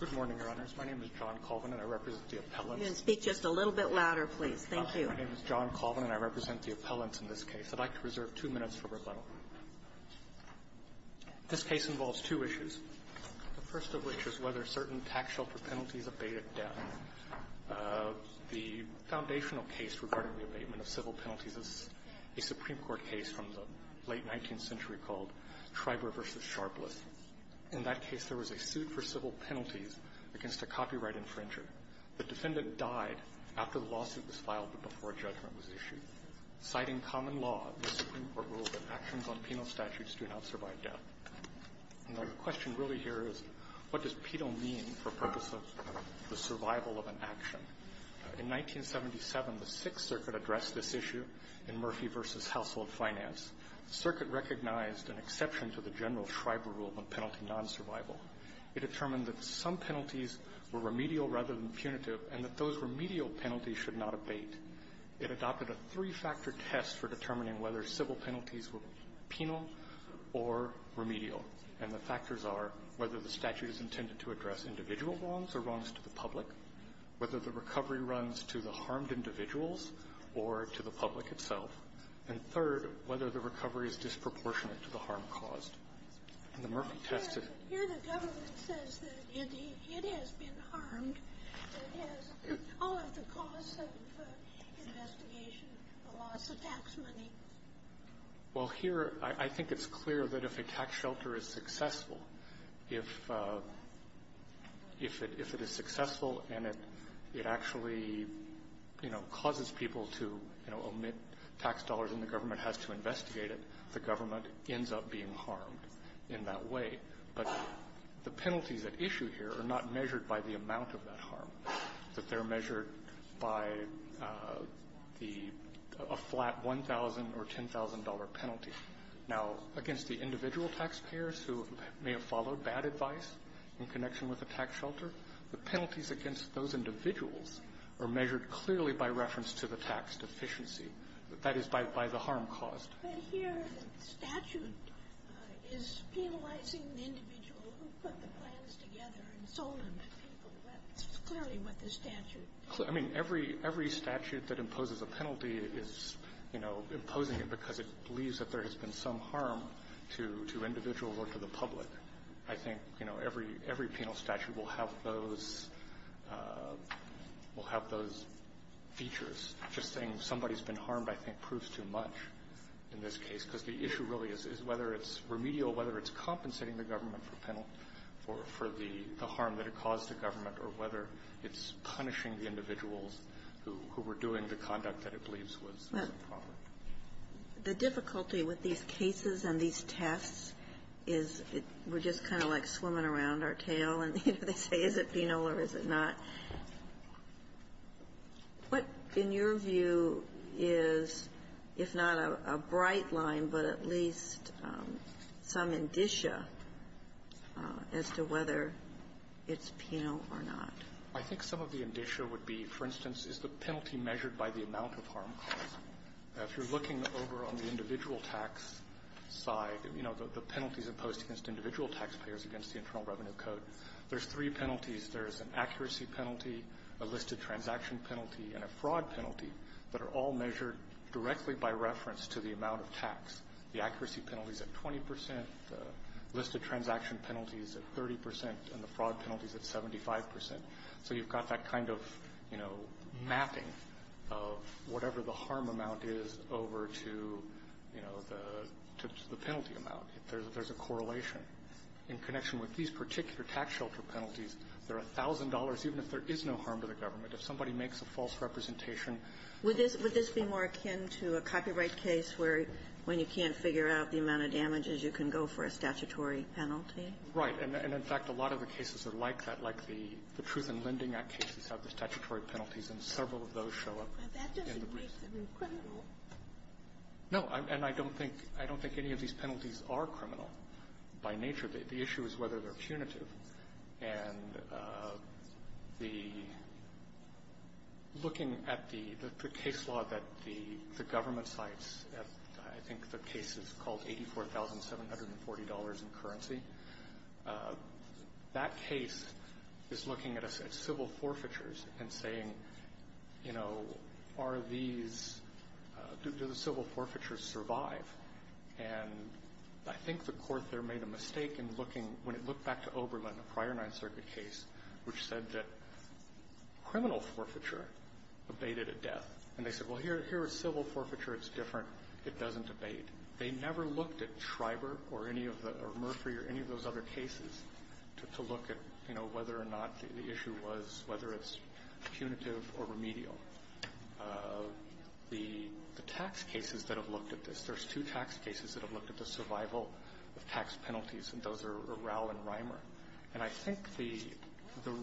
Good morning, Your Honors. My name is John Colvin, and I represent the appellants. You can speak just a little bit louder, please. Thank you. My name is John Colvin, and I represent the appellants in this case. I'd like to reserve two minutes for rebuttal. This case involves two issues, the first of which is whether certain tax-shelter penalties abate at death. The foundational case regarding the abatement of civil penalties is a Supreme Court case from the late In that case, there was a suit for civil penalties against a copyright infringer. The defendant died after the lawsuit was filed but before a judgment was issued. Citing common law, the Supreme Court ruled that actions on penal statutes do not survive death. Now, the question really here is, what does pedo mean for purpose of the survival of an action? In 1977, the Sixth Circuit addressed this issue in Murphy v. Household Finance. The Circuit recognized an exception to the general Schreiber rule on penalty non-survival. It determined that some penalties were remedial rather than punitive, and that those remedial penalties should not abate. It adopted a three-factor test for determining whether civil penalties were penal or remedial, and the factors are whether the statute is intended to address individual wrongs or wrongs to the public, whether the recovery runs to the harmed individuals or to the And third, whether the recovery is disproportionate to the harm caused. And the Murphy test is Here the government says that it has been harmed. It has all of the cause of the investigation, the loss of tax money. Well, here, I think it's clear that if a tax shelter is successful, if it is successful and it actually, you know, causes people to, you know, omit tax dollars and the government has to investigate it, the government ends up being harmed in that way. But the penalties at issue here are not measured by the amount of that harm, that they're measured by the flat $1,000 or $10,000 penalty. Now, against the individual taxpayers who may have followed bad advice in connection with a tax shelter, the penalties against those individuals are measured clearly by reference to the tax deficiency, that is, by the harm caused. But here the statute is penalizing the individual who put the plans together and sold them to people. That's clearly what the statute I mean, every statute that imposes a penalty is, you know, imposing it because it believes that there has been some harm to individuals or to the public. I think, you know, every penal statute will have those features. Just saying somebody's been harmed, I think, proves too much in this case. Because the issue really is whether it's remedial, whether it's compensating the government for the harm that it caused the government, or whether it's punishing the individuals who were doing the conduct that it believes was improper. The difficulty with these cases and these tests is we're just kind of like swimming around our tail, and they say, is it penal or is it not? What, in your view, is, if not a bright line, but at least some indicia as to whether it's penal or not? I think some of the indicia would be, for instance, is the penalty measured by the amount of harm caused. If you're looking over on the individual tax side, you know, the penalties imposed against individual taxpayers against the Internal Revenue Code, there's three penalties. There's an accuracy penalty, a listed transaction penalty, and a fraud penalty that are all measured directly by reference to the amount of tax. The accuracy penalty is at 20 percent, the listed transaction penalty is at 30 percent, and the fraud penalty is at 75 percent. So you've got that kind of, you know, mapping of whatever the harm amount is over to, you know, the penalty amount. If there's a correlation in connection with these particular tax shelter penalties, there are $1,000, even if there is no harm to the government. If somebody makes a false representation of the penalty, there's a $1,000 penalty. Would this be more akin to a copyright case where, when you can't figure out the amount of damages, you can go for a statutory penalty? Right. And in fact, a lot of the cases are like that, like the Truth in Lending Act cases have the statutory penalties, and several of those show up in the briefs. But that doesn't make them criminal. No. And I don't think any of these penalties are criminal by nature. The issue is whether they're punitive. And the looking at the case law that the government cites, I think the case is called $84,740 in currency. That case is looking at civil forfeitures and saying, you know, are these do the civil forfeitures survive? And I think the Court there made a mistake in looking, when it looked back to Oberlin, a prior Ninth Circuit case, which said that criminal forfeiture abated at death. And they said, well, here is civil forfeiture. It's different. It doesn't abate. They never looked at Schreiber or any of the or Murphy or any of those other cases to look at, you know, whether or not the issue was, whether it's punitive or remedial. The tax cases that have looked at this, there's two tax cases that have looked at the survival of tax penalties, and those are Rauh and Reimer. And I think the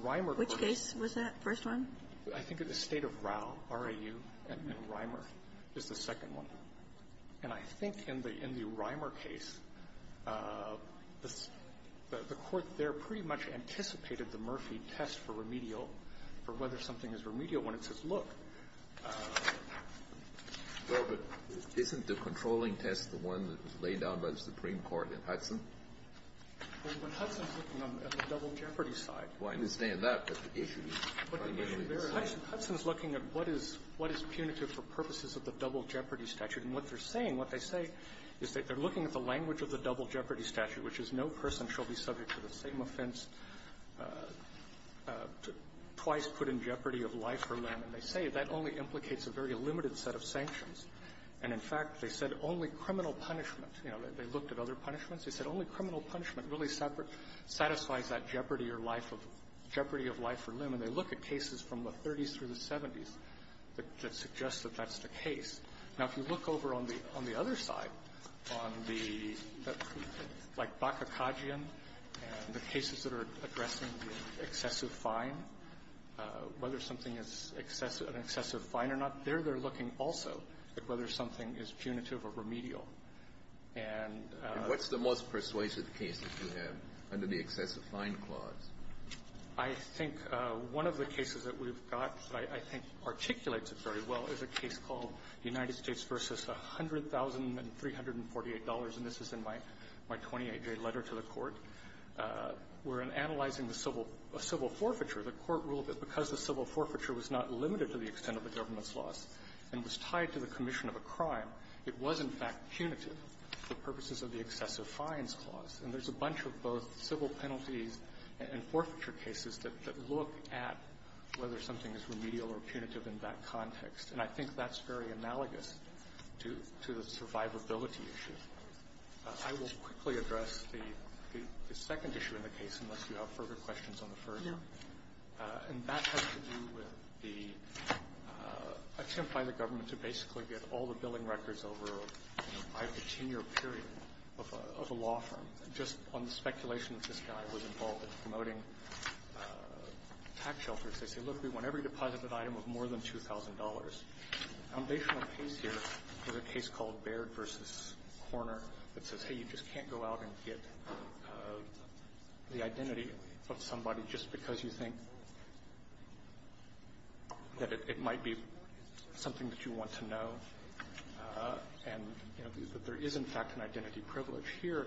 Reimer case was the first one. I think the State of Rauh, R-A-U, and Reimer is the second one. And I think in the Reimer case, the Court there pretty much anticipated the Murphy test for remedial, for whether something is remedial, when it says, look. Alitoso, isn't the controlling test the one that was laid down by the Supreme Court in Hudson? Well, when Hudson's looking on the double jeopardy side. Well, I understand that, but the issue is on the other side. Hudson is looking at what is punitive for purposes of the double jeopardy statute, and what they're saying, what they say is that they're looking at the language of the double jeopardy statute, which is no person shall be subject to the same offense twice put in jeopardy of life or limb. And they say that only implicates a very limited set of sanctions. And, in fact, they said only criminal punishment. You know, they looked at other punishments. They said only criminal punishment really satisfies that jeopardy or life of, jeopardy of life or limb. And they look at cases from the 30s through the 70s that suggest that that's the case. Now, if you look over on the other side, on the, like Bakakajian, and the cases that are addressing the excessive fine, whether something is excessive, an excessive fine or not, there they're looking also at whether something is punitive or remedial. And what's the most persuasive case that you have under the excessive fine clause? I think one of the cases that we've got that I think articulates it very well is a case in the United States v. $100,348, and this is in my 28-day letter to the Court, where, in analyzing the civil forfeiture, the Court ruled that because the civil forfeiture was not limited to the extent of the government's loss and was tied to the commission of a crime, it was, in fact, punitive for purposes of the excessive fines clause. And there's a bunch of both civil penalties and forfeiture cases that look at whether something is remedial or punitive in that context. And I think that's very analogous to the survivability issue. I will quickly address the second issue in the case, unless you have further questions on the first one. And that has to do with the attempt by the government to basically get all the billing records over a five-to-ten-year period of a law firm just on the speculation that this guy was involved in promoting tax shelters. They say, look, we want every deposited item of more than $2,000. A foundational case here is a case called Baird v. Korner that says, hey, you just can't go out and get the identity of somebody just because you think that it might be something that you want to know, and, you know, that there is, in fact, an identity privilege. Here,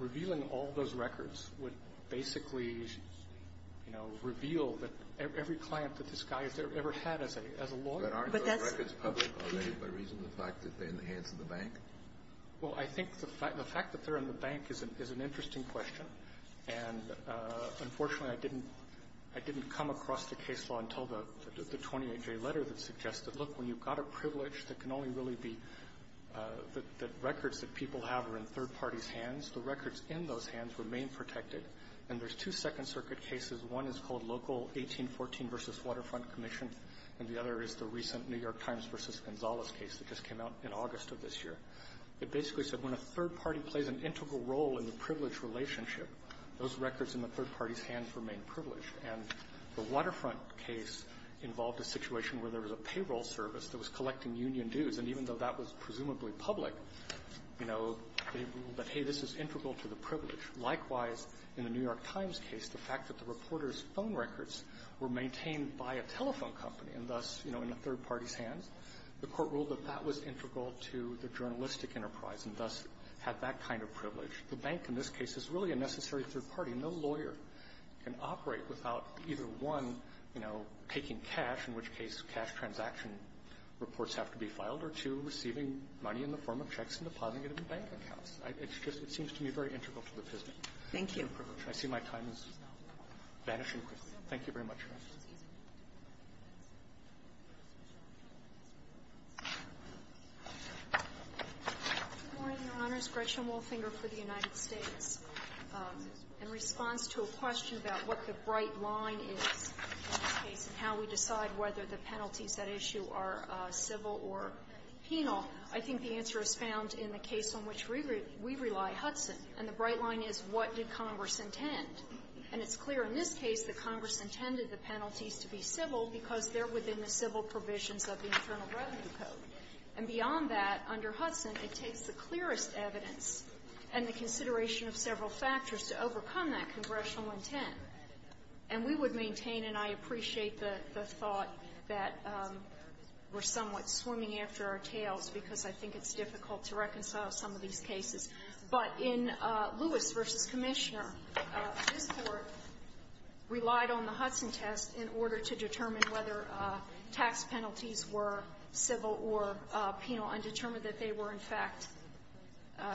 revealing all those records would basically, you know, reveal that every client that this guy has ever had as a lawyer. Kennedy. But aren't those records public already by reason of the fact that they're in the hands of the bank? Well, I think the fact that they're in the bank is an interesting question. And, unfortunately, I didn't come across the case law until the 28-J letter that suggested, look, when you've got a privilege that can only really be the records that people have are in third parties' hands, the records in those hands remain protected. And there's two Second Circuit cases. One is called Local 1814 v. Waterfront Commission, and the other is the recent New York Times v. Gonzalez case that just came out in August of this year. It basically said when a third party plays an integral role in the privilege relationship, those records in the third party's hands remain privileged. And the Waterfront case involved a situation where there was a payroll service that was collecting union dues, and even though that was presumably public, you know, they ruled that, hey, this is integral to the privilege. Likewise, in the New York Times case, the fact that the reporter's phone records were maintained by a telephone company and thus, you know, in the third party's hands, the Court ruled that that was integral to the journalistic enterprise and thus had that kind of privilege. The bank in this case is really a necessary third party. No lawyer can operate without either, one, you know, taking cash, in which case cash transaction reports have to be filed, or two, receiving money in the form of checks and depositing it in bank accounts. It's just it seems to me very integral to the prison. Thank you. I see my time is vanishing quickly. Thank you very much, Your Honor. Good morning, Your Honors. Gretchen Wolfinger for the United States. In response to a question about what the bright line is in this case and how we decide whether the penalties at issue are civil or penal, I think the answer is found in the case on which we rely, Hudson. And the bright line is, what did Congress intend? And it's clear in this case that Congress intended the penalties to be civil because they're within the civil provisions of the Internal Revenue Code. And beyond that, under Hudson, it takes the clearest evidence and the consideration of several factors to overcome that congressional intent. And we would maintain and I appreciate the thought that we're somewhat swimming after our tails because I think it's difficult to reconcile some of these cases. But in Lewis v. Commissioner, this Court relied on the Hudson test in order to determine whether tax penalties were civil or penal and determined that they were in fact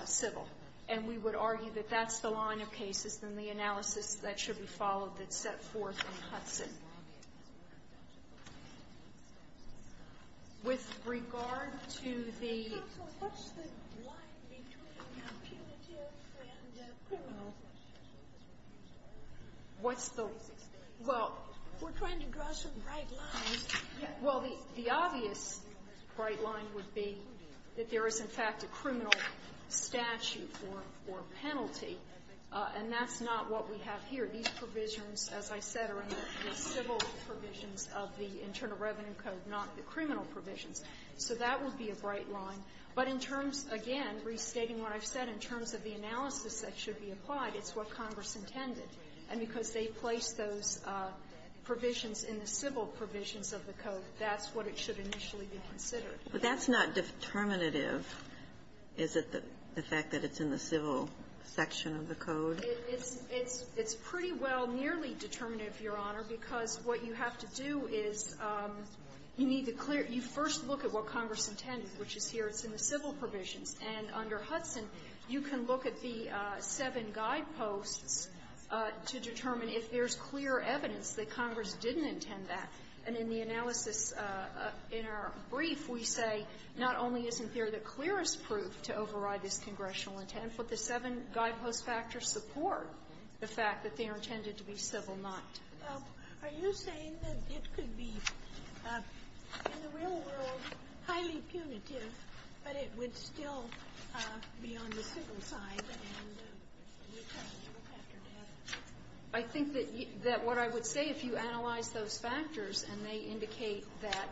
civil. And we would argue that that's the line of cases in the analysis that should be followed that's set forth in Hudson. With regard to the – Counsel, what's the line between punitive and criminal? What's the – well – We're trying to draw some bright lines. Well, the obvious bright line would be that there is, in fact, a criminal statute for penalty. And that's not what we have here. These provisions, as I said, are in the civil provisions of the Internal Revenue Code, not the criminal provisions. So that would be a bright line. But in terms, again, restating what I've said, in terms of the analysis that should be applied, it's what Congress intended. And because they placed those provisions in the civil provisions of the Code, that's what it should initially be considered. But that's not determinative. Is it the fact that it's in the civil section of the Code? It's pretty well nearly determinative, Your Honor, because what you have to do is you need to clear – you first look at what Congress intended, which is here. It's in the civil provisions. And under Hudson, you can look at the seven guideposts to determine if there's clear evidence that Congress didn't intend that. And in the analysis in our brief, we say not only isn't there the clearest proof to override this congressional intent, but the seven guidepost factors support the fact that they are intended to be civil, not criminal. Are you saying that it could be, in the real world, highly punitive, but it would still be on the civil side, and you'd have to look after that? I think that what I would say, if you analyze those factors and they indicate that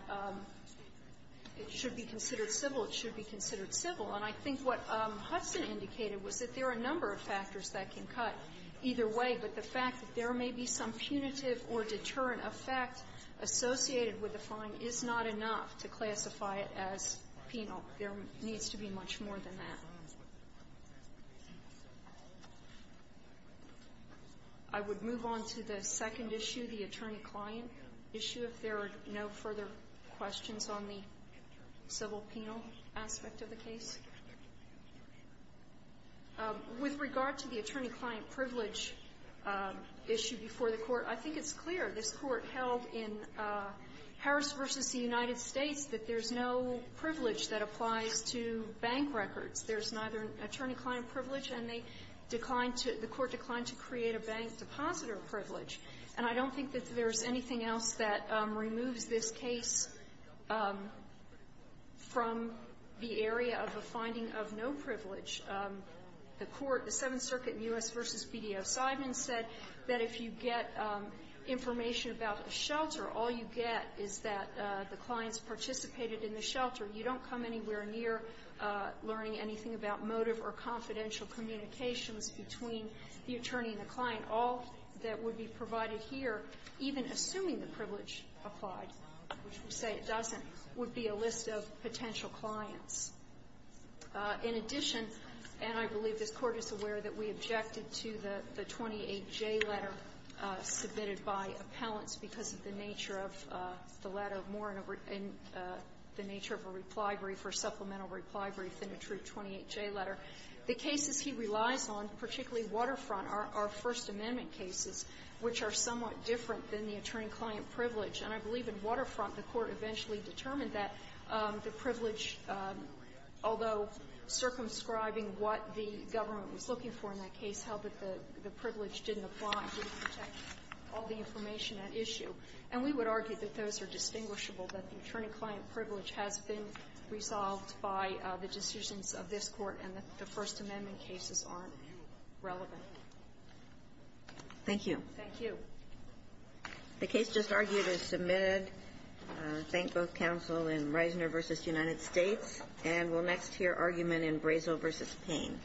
it should be considered civil, it should be considered civil. And I think what Hudson indicated was that there are a number of factors that can cut either way, but the fact that there may be some punitive or deterrent effect associated with a fine is not enough to classify it as penal. There needs to be much more than that. I would move on to the second issue, the attorney-client issue, if there are no further questions on the civil-penal aspect of the case. With regard to the attorney-client privilege issue before the Court, I think it's clear. This Court held in Harris v. United States that there's no privilege that applies to bank records. There's neither attorney-client privilege, and they declined to the Court declined to create a bank-depositor privilege. And I don't think that there's anything else that removes this case from the area of a finding of no privilege. The Court, the Seventh Circuit in U.S. v. BDO Seidman said that if you get information about a shelter, all you get is that the client's participated in the shelter. You don't come anywhere near learning anything about motive or confidential communications between the attorney and the client. And all that would be provided here, even assuming the privilege applied, which we say it doesn't, would be a list of potential clients. In addition, and I believe this Court is aware that we objected to the 28J letter submitted by appellants because of the nature of the letter, more in the nature of a reply brief or supplemental reply brief than a true 28J letter. The cases he relies on, particularly Waterfront, are First Amendment cases, which are somewhat different than the attorney-client privilege. And I believe in Waterfront, the Court eventually determined that the privilege, although circumscribing what the government was looking for in that case, held that the privilege didn't apply. It didn't protect all the information at issue. And we would argue that those are distinguishable, that the attorney-client privilege has been resolved by the decisions of this Court, and that the First Amendment cases aren't relevant. Thank you. Thank you. The case just argued is submitted. Thank both counsel in Reisner v. United States. And we'll next hear argument in Brazel v. Payne.